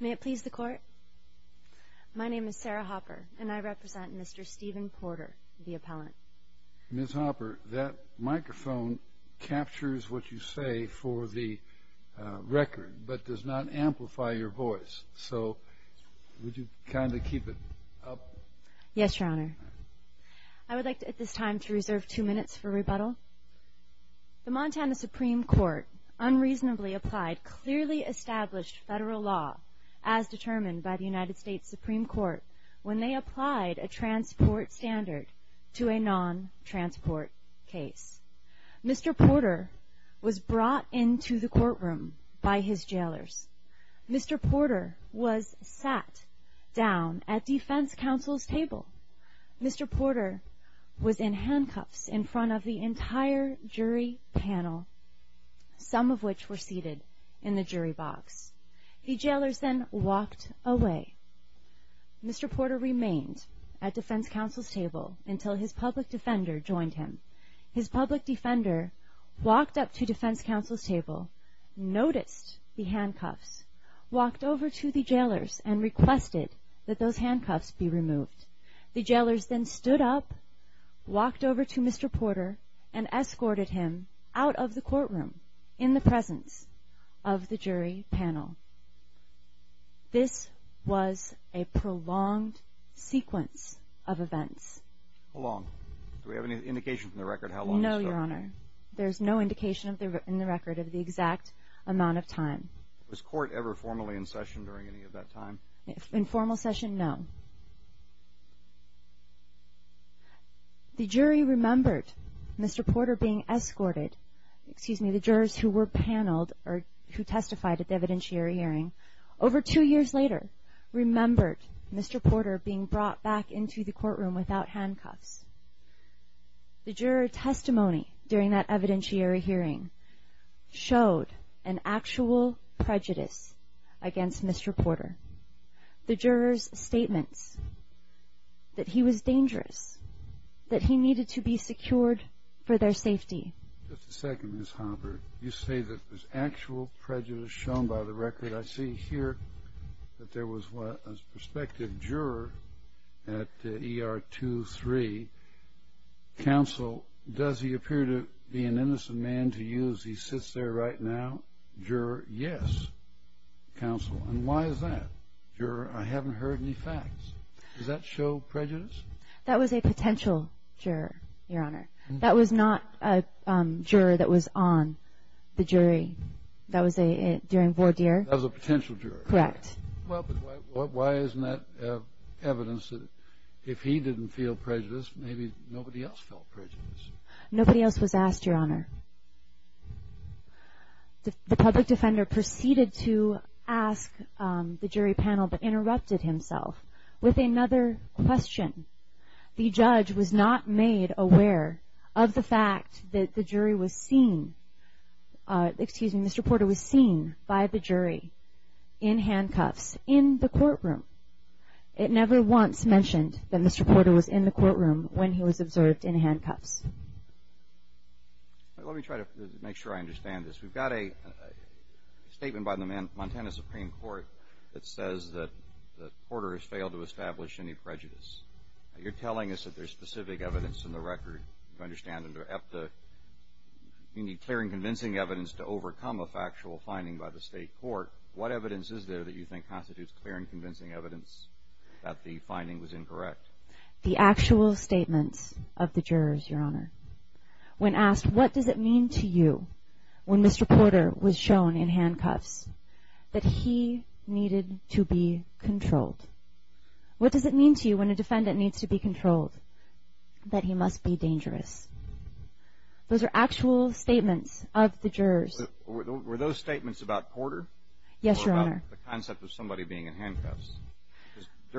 Ms. Hopper, that microphone captures what you say for the record, but does not amplify your voice. So, would you kindly keep it up? Yes, Your Honor. I would like at this time to reserve two minutes for rebuttal. The Montana Supreme Court unreasonably applied clearly established federal law as determined by the United States Supreme Court when they applied a transport standard to a non-transport case. Mr. Porter was brought into the courtroom by his jailers. Mr. Porter was sat down at the defense counsel's table. Mr. Porter was in handcuffs in front of the entire jury panel, some of which were seated in the jury box. The jailers then walked away. Mr. Porter remained at the defense counsel's table until his public defender joined him. His public defender walked up to the defense counsel's table, noticed the handcuffs, walked over to the jailers and requested that those handcuffs be removed. The jailers then stood up, walked over to Mr. Porter, and escorted him out of the courtroom in the presence of the jury panel. This was a prolonged sequence of events. How long? Do we have any indication from the record how long this took? No, Your Honor. There's no indication in the record of the jury remembering any of that time? In formal session, no. The jury remembered Mr. Porter being escorted, excuse me, the jurors who were paneled or who testified at the evidentiary hearing. Over two years later, remembered Mr. Porter being brought back into the courtroom without handcuffs. The juror testimony during that evidentiary hearing showed an actual prejudice against Mr. Porter. The jurors' statements that he was dangerous, that he needed to be secured for their safety. Just a second, Ms. Hobbard. You say that there's actual prejudice shown by the record. I see here that there was a prospective juror at ER 23. Counsel, does he appear to be an innocent man to you as he sits there right now? Juror, yes. Counsel, and why is that? Juror, I haven't heard any facts. Does that show prejudice? That was a potential juror, Your Honor. That was not a juror that was on the jury. That was during voir dire. That was a potential juror? Correct. Well, but why isn't that evidence that if he didn't feel prejudice, maybe nobody else felt prejudice? Nobody else was asked, Your Honor. The public defender proceeded to ask the jury panel, but interrupted himself with another question. The judge was not made aware of the fact that the jury was seen, excuse me, Mr. Porter was seen by the jury in handcuffs in the courtroom. It never once mentioned that Mr. Porter was in the courtroom when he was observed in handcuffs. Let me try to make sure I understand this. We've got a statement by the Montana Supreme Court that says that Porter has failed to establish any prejudice. You're telling us that there's specific evidence in the record. You understand under EPTA you need clear and convincing evidence to overcome a factual finding by the state court. What evidence is there that you think is incorrect? The actual statements of the jurors, Your Honor. When asked, what does it mean to you when Mr. Porter was shown in handcuffs that he needed to be controlled? What does it mean to you when a defendant needs to be controlled that he must be dangerous? Those are actual statements of the jurors. Were those statements about Porter? Yes, Your Honor.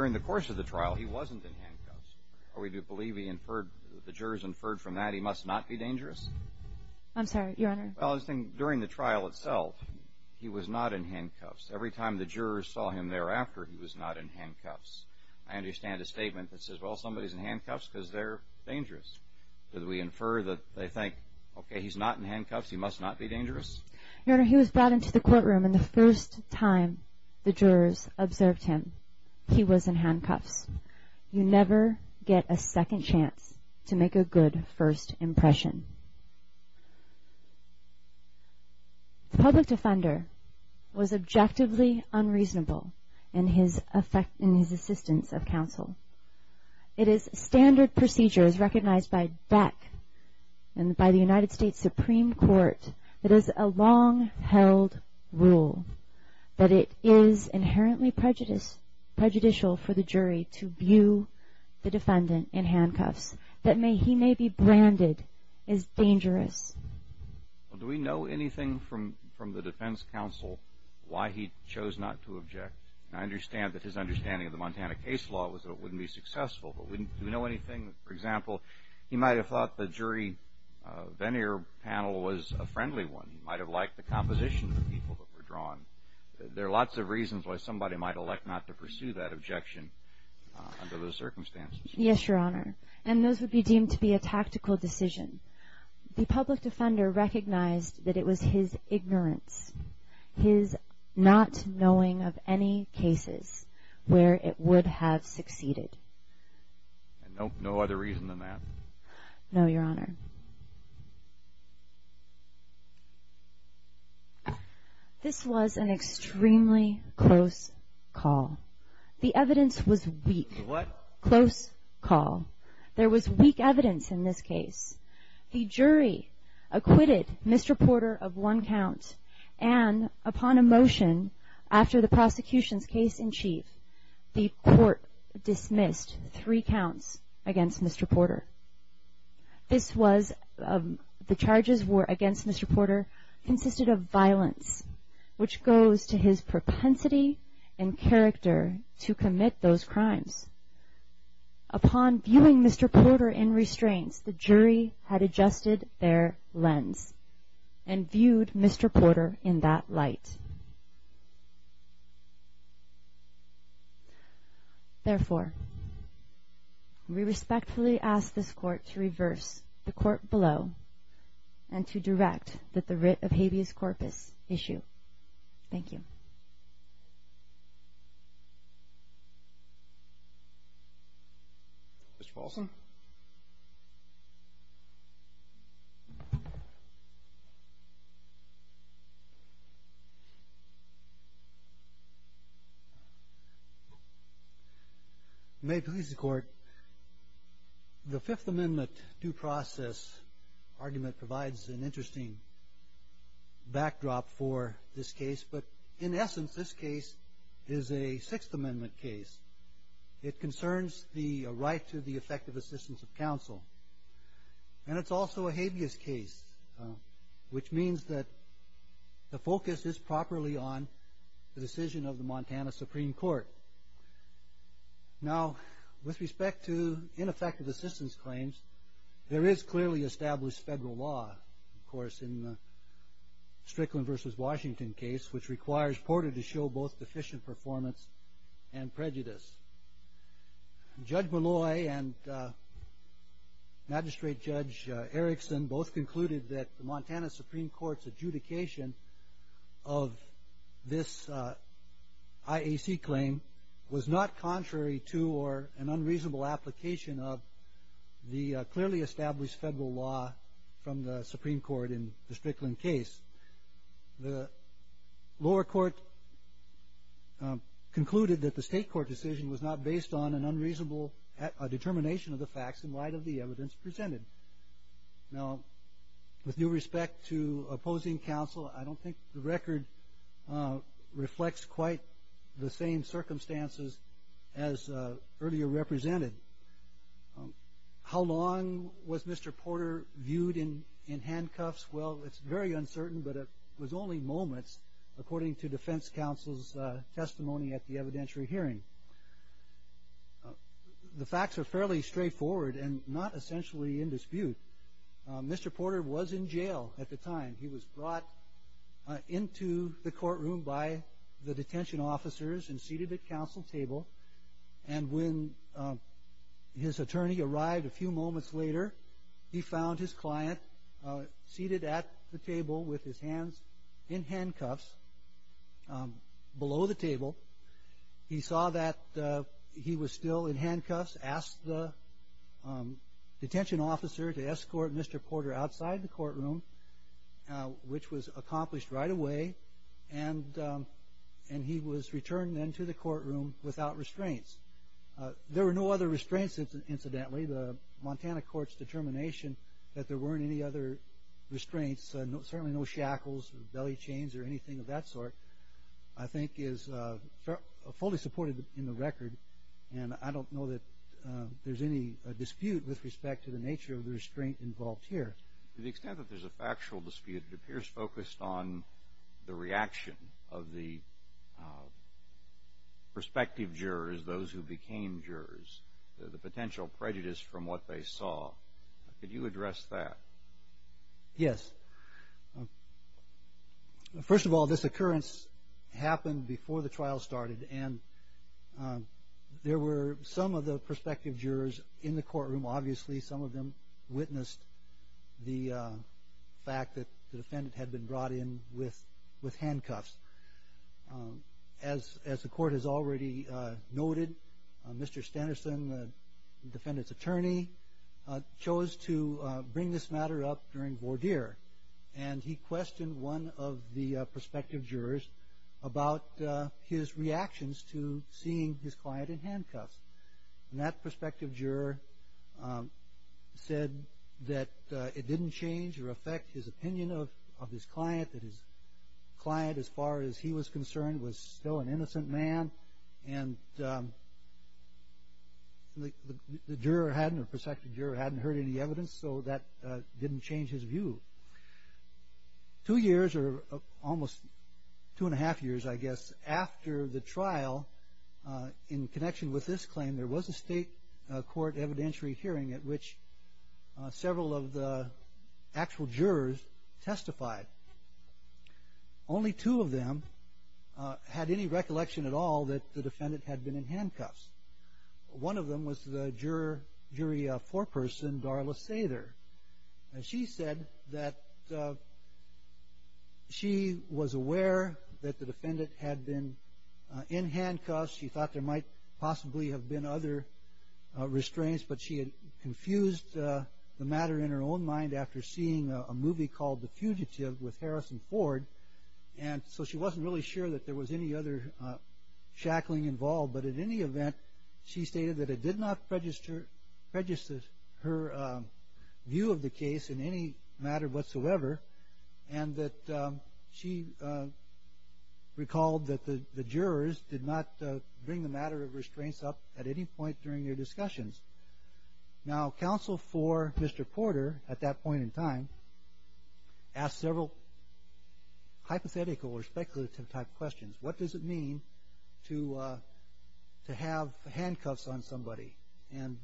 In the course of the trial, he wasn't in handcuffs. Are we to believe the jurors inferred from that he must not be dangerous? I'm sorry, Your Honor. During the trial itself, he was not in handcuffs. Every time the jurors saw him thereafter, he was not in handcuffs. I understand a statement that says, well, somebody's in handcuffs because they're dangerous. Did we infer that they think, okay, he's not in handcuffs, he must not be dangerous? Your Honor, he was brought into the courtroom and the first time the jurors observed him, he was in handcuffs. You never get a second chance to make a good first impression. The public defender was objectively unreasonable in his assistance of counsel. It is standard procedure as recognized by DEC and by the United States Supreme Court that is a long-held rule, that it is inherently prejudicial for the jury to view the defendant in handcuffs, that he may be branded as dangerous. Do we know anything from the defense counsel why he chose not to object? I understand that his understanding of the Montana case law was that it wouldn't be successful, but do we know anything? For example, he might have thought the jury veneer panel was a friendly one. He might have liked the composition of the people that were drawn. There are lots of reasons why somebody might elect not to pursue that objection under those circumstances. Yes, Your Honor, and those would be deemed to be a tactical decision. The public defender recognized that it was his ignorance, his not knowing of any cases where it would have succeeded. No other reason than that? No, Your Honor. This was an extremely close call. The evidence was weak. What? Close call. There was weak evidence in this case. The jury acquitted Mr. Porter of one count and upon a motion after the prosecution's case in chief, the court dismissed three counts against Mr. Porter. The charges against Mr. Porter consisted of violence, which goes to his propensity and character to commit those crimes. Upon viewing Mr. Porter in restraints, the jury had adjusted their lens and viewed Mr. Porter in that light. Therefore, we respectfully ask this court to reverse the court below and to direct that the writ of habeas corpus issue. Thank you. Mr. Paulson? May it please the Court, the Fifth Amendment due process argument provides an interesting backdrop for this case, but in essence this case is a Sixth Amendment case. It concerns the right to the effective assistance of counsel, and it's also a habeas case, which means that the focus is properly on the decision of the Montana Supreme Court. Now, with respect to ineffective assistance claims, there is clearly established federal law, of course, in the Strickland v. Washington case, which requires Porter to show both deficient performance and prejudice. Judge Malloy and Magistrate Judge Erickson both concluded that the Montana Supreme Court's clearly established federal law from the Supreme Court in the Strickland case. The lower court concluded that the state court decision was not based on an unreasonable determination of the facts in light of the evidence presented. Now, with due respect to opposing counsel, I don't think the record reflects quite the same circumstances as earlier represented. How long was Mr. Porter viewed in handcuffs? Well, it's very uncertain, but it was only moments according to defense counsel's testimony at the evidentiary hearing. The facts are fairly straightforward and not essentially in dispute. Mr. Porter was in jail at the time. He was brought into the courtroom by the detention officers and seated at counsel's table. And when his attorney arrived a few moments later, he found his client seated at the table with his hands in handcuffs below the table. He saw that he was still in handcuffs, asked the detention officer to escort Mr. Porter outside the courtroom, which was accomplished right away, and he was returned then to the courtroom without restraints. There were no other restraints, incidentally. The Montana court's determination that there weren't any other restraints, certainly no shackles, belly chains, or anything of that sort, I think is fully supported in the record. And I don't know that there's any dispute with respect to the nature of the restraint involved here. To the extent that there's a factual dispute, it appears focused on the reaction of the prospective jurors, those who became jurors, the potential prejudice from what they saw. Could you address that? Yes. First of all, this occurrence happened before the trial started, and there were some of the prospective jurors in the courtroom, obviously, some of them witnessed the fact that the defendant had been brought in with handcuffs. As the court has already noted, Mr. Standerson, the defendant's to bring this matter up during voir dire, and he questioned one of the prospective jurors about his reactions to seeing his client in handcuffs. And that prospective juror said that it didn't change or affect his opinion of his client, that his client, as far as he was concerned, was still an So that didn't change his view. Two years, or almost two and a half years, I guess, after the trial, in connection with this claim, there was a state court evidentiary hearing at which several of the actual jurors testified. Only two of them had any recollection at all that the defendant had been in And she said that she was aware that the defendant had been in handcuffs. She thought there might possibly have been other restraints, but she had confused the matter in her own mind after seeing a movie called The Fugitive with Harrison Ford, and so she wasn't really sure that there was any other she stated that it did not prejudice her view of the case in any matter whatsoever, and that she recalled that the jurors did not bring the matter of restraints up at any point during their discussions. Now, counsel for Mr. Porter, at that point in time, asked several hypothetical or speculative type questions. What does it mean to have handcuffs on somebody? And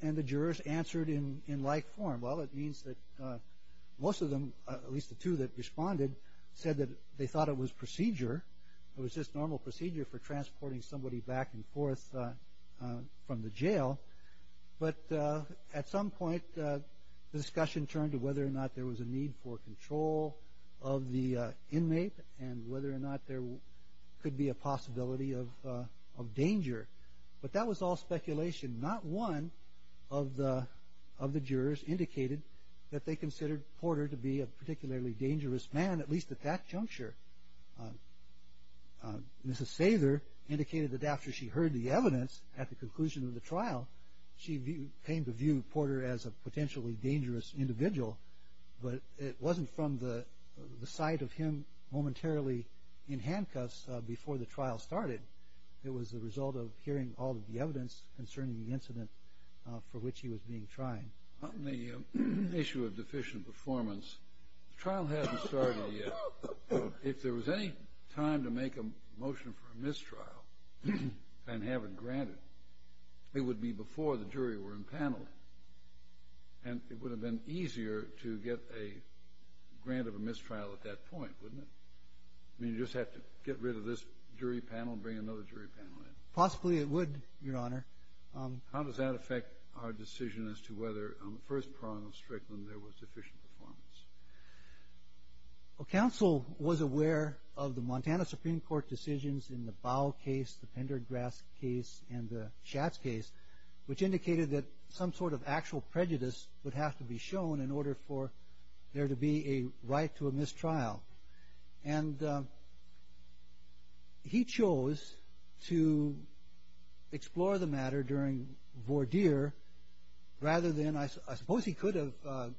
the jurors answered in like form. Well, it means that most of them, at least the two that responded, said that they thought it was procedure. It was just normal procedure for transporting somebody back and forth from the jail, but at some point, the discussion turned to whether or not there was a need for control of the inmate, and whether or not there could be a possibility of danger, but that was all speculation. Not one of the jurors indicated that they considered Porter to be a particularly dangerous man, at least at that juncture. Mrs. Sather indicated that after she heard the evidence at the But it wasn't from the sight of him momentarily in handcuffs before the trial started. It was the result of hearing all of the evidence concerning the incident for which he was being tried. On the issue of deficient performance, the trial hasn't started yet. If there was any time to make a motion for a mistrial and have it granted, it would be before the jury were in panel, and it would have been easier to get a grant of a mistrial at that point, wouldn't it? I mean, you'd just have to get rid of this jury panel and bring another jury panel in. Possibly it would, Your Honor. How does that affect our decision as to whether on the first prong of Strickland there was deficient performance? Well, counsel was aware of the Montana Supreme Court decisions in the Bowe case, the Pendergrass case, and the Schatz case, which indicated that some sort of actual prejudice would have to be shown in order for there to be a right to a mistrial. And he chose to explore the matter during voir dire rather than, I suppose he could have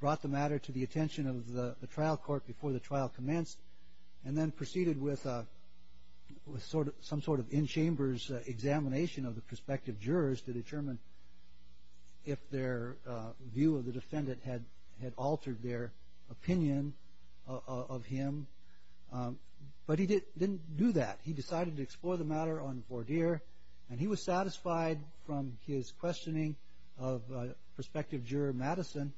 brought the matter to the attention of the trial court before the trial commenced, and then proceeded with some sort of in-chambers examination of the prospective jurors to determine if their view of the defendant had altered their opinion of him. But he didn't do that. He decided to explore the matter on voir dire, and he was satisfied from his questioning of prospective juror Madison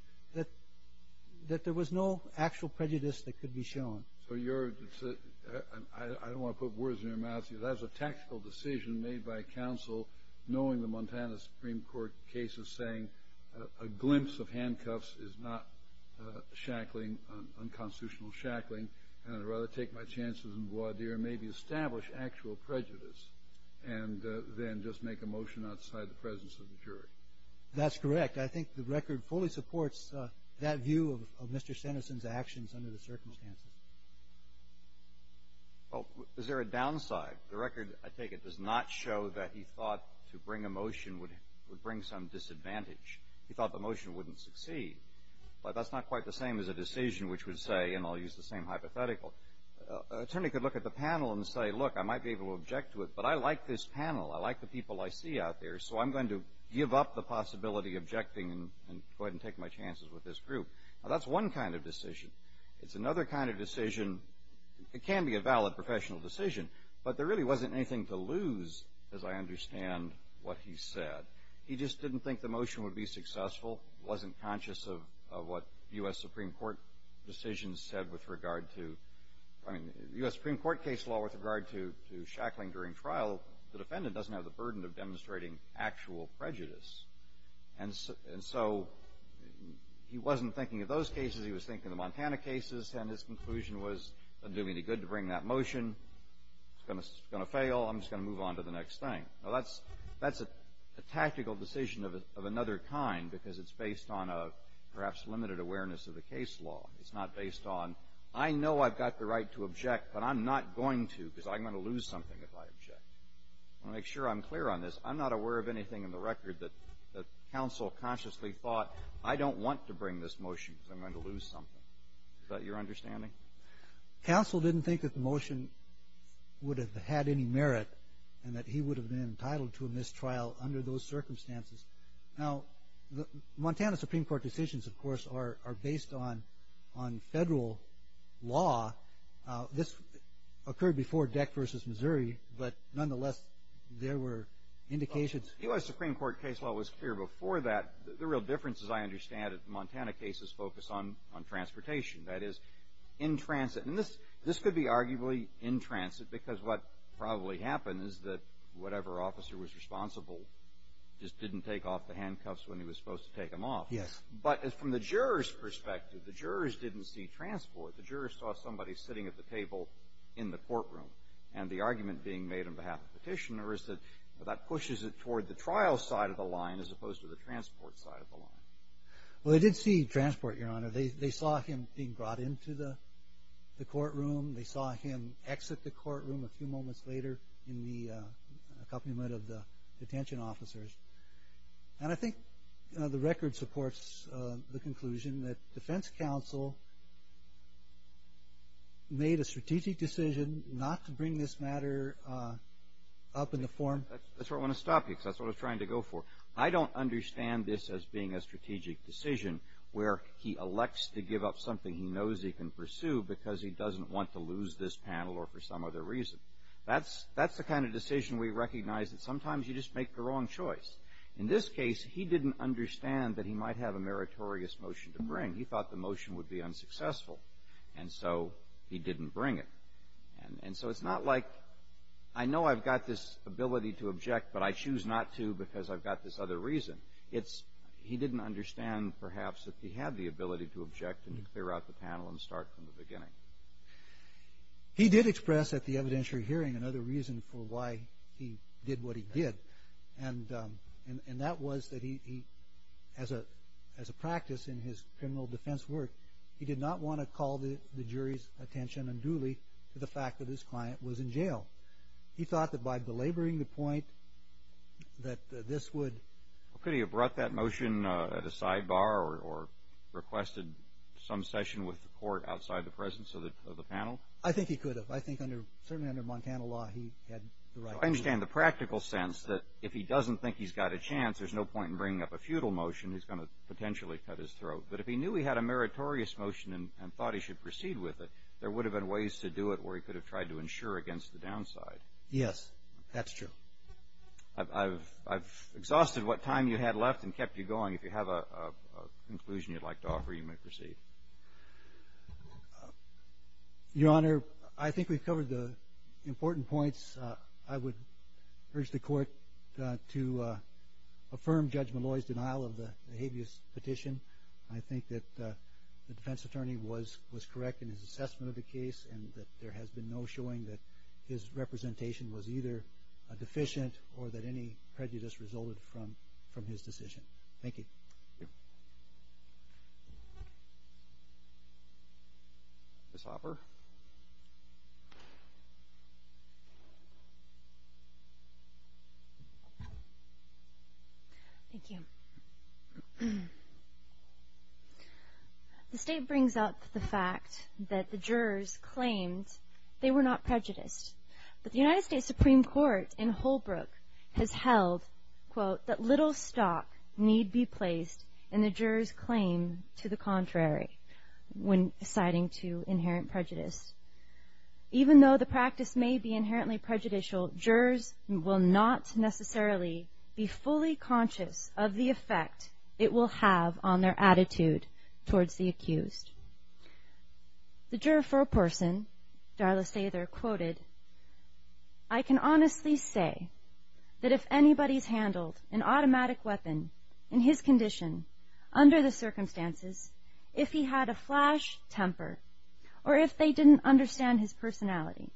that there was no actual prejudice that could be shown. So you're, I don't want to put words in your mouth, but that was a tactical decision made by counsel knowing the Montana Supreme Court cases saying a glimpse of handcuffs is not shackling, unconstitutional shackling, and I'd rather take my chances in voir dire, maybe establish actual prejudice, and then just make a motion outside the presence of the jury. That's correct. I think the record fully supports that view of Mr. Sanderson's actions under the circumstances. Well, is there a downside? The record, I take it, does not show that he thought to bring a motion would bring some disadvantage. He thought the motion wouldn't succeed. But that's not quite the same as a decision which would say, and I'll use the same hypothetical, an attorney could look at the panel and say, look, I might be able to object to it, but I like this panel. I like the people I see out there, so I'm going to give up the possibility of objecting and go ahead and take my chances with this group. Now, that's one kind of decision. It's another kind of decision. It can be a valid professional decision, but there really wasn't anything to lose, as I understand what he said. He just didn't think the motion would be successful, wasn't conscious of what U.S. Supreme Court decisions said with regard to, I mean, U.S. Supreme Court case law with regard to shackling during trial, the defendant doesn't have the burden of demonstrating actual prejudice. And so he wasn't thinking of those cases. He was thinking of the Montana cases, and his conclusion was, it doesn't do me any good to bring that motion. It's going to fail. I'm just going to move on to the next thing. Now, that's a tactical decision of another kind, because it's based on a perhaps limited awareness of the case law. It's not based on, I know I've got the right to object, but I'm not going to, because I'm going to lose something if I object. I want to make sure I'm clear on this. I'm not aware of anything in the record that counsel consciously thought, I don't want to bring this motion, because I'm going to lose something. Is that your understanding? Counsel didn't think that the motion would have had any merit, and that he would have been entitled to a mistrial under those circumstances. Now, Montana Supreme Court decisions, of course, are based on federal law. This occurred before Deck v. Missouri, but nonetheless, there were indications The U.S. Supreme Court case law was clear before that. The real difference, as I understand it, Montana cases focus on transportation, that is, in transit. And this could be arguably in transit, because what probably happened is that whatever officer was responsible just didn't take off the handcuffs when he was supposed to take them off. Yes. But from the jurors' perspective, the jurors didn't see transport. The jurors saw somebody sitting at the table in the courtroom, and the argument being made on behalf of the petitioner is that that pushes it toward the trial side of the line, as opposed to the transport side of the line. Well, they did see transport, Your Honor. They saw him being brought into the courtroom. They saw him exit the courtroom a few moments later in the accompaniment of the detention officers. And I think the record supports the conclusion that defense counsel made a strategic decision not to bring this matter up in the form of a panel. That's where I want to stop you, because that's what I was trying to go for. I don't understand this as being a strategic decision where he elects to give up something he knows he can pursue because he doesn't want to lose this panel or for some other reason. That's the kind of decision we recognize that sometimes you just make the wrong choice. In this case, he didn't understand that he might have a meritorious motion to bring. He thought the motion would be unsuccessful, and so he didn't bring it. And so it's not like, I know I've got this ability to object, but I choose not to because I've got this other reason. It's he didn't understand, perhaps, that he had the ability to object and to clear out the panel and start from the beginning. He did express at the evidentiary hearing another reason for why he did what he did, and that was that he, as a practice in his criminal defense work, he did not want to call the jury's attention unduly to the fact that his client was in jail. He thought that by belaboring the point that this would... Could he have brought that motion at a sidebar or requested some session with the court outside the presence of the panel? I think he could have. I think certainly under Montana law, he had the right... I understand the practical sense that if he doesn't think he's got a chance, there's no point in bringing up a feudal motion. He's going to have a meritorious motion and thought he should proceed with it. There would have been ways to do it where he could have tried to ensure against the downside. Yes, that's true. I've exhausted what time you had left and kept you going. If you have a conclusion you'd like to offer, you may proceed. Your Honor, I think we've covered the important points. I would urge the court to affirm Judge Malloy's denial of the habeas petition. I think that the defense attorney was correct in his assessment of the case and that there has been no showing that his representation was either deficient or that any prejudice resulted from his decision. Thank you. Ms. Hopper? Thank you. The state brings up the fact that the jurors claimed they were not prejudiced, but the United States Supreme Court in Holbrook has held, quote, that little stock need be placed in the jurors' claim to the contrary when citing to inherent prejudice. Even though the practice may be inherently prejudicial, jurors will not necessarily be fully conscious of the effect it will have on their attitude towards the accused. The juror for a case handled an automatic weapon in his condition under the circumstances, if he had a flash temper or if they didn't understand his personality,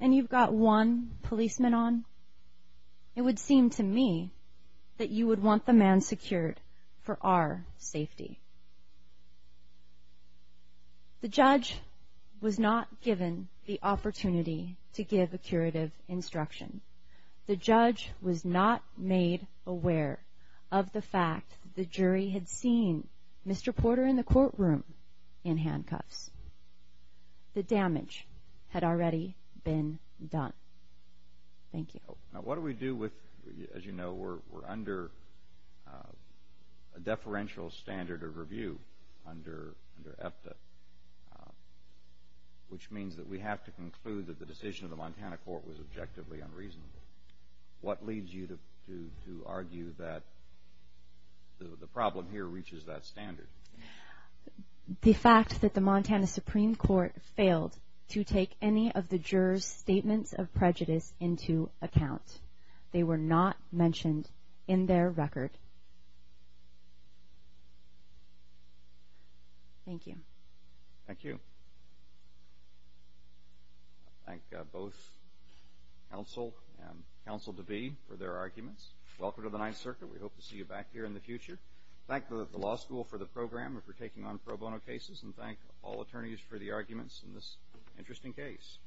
and you've got one policeman on, it would seem to me that you would want the man secured for our safety. The judge was not given the opportunity to give a curative instruction. The judge was not made aware of the fact that the jury had seen Mr. Porter in the courtroom in handcuffs. The damage had already been done. Thank you. Now, what do we do with, as you know, we're under a deferential standard of review under EFTA, which means that we have to conclude that the decision of the Montana court was objectively unreasonable. What leads you to argue that the problem here reaches that standard? The fact that the Montana Supreme Court failed to take any of the jurors' statements of prejudice into account. They were not mentioned in their record. Thank you. Thank you. I thank both counsel and counsel-to-be for their arguments. Welcome to the Ninth Circuit. We hope to see you back here in the future. Thank the law school for the program and for taking on pro bono cases, and thank all attorneys for the arguments in this interesting case.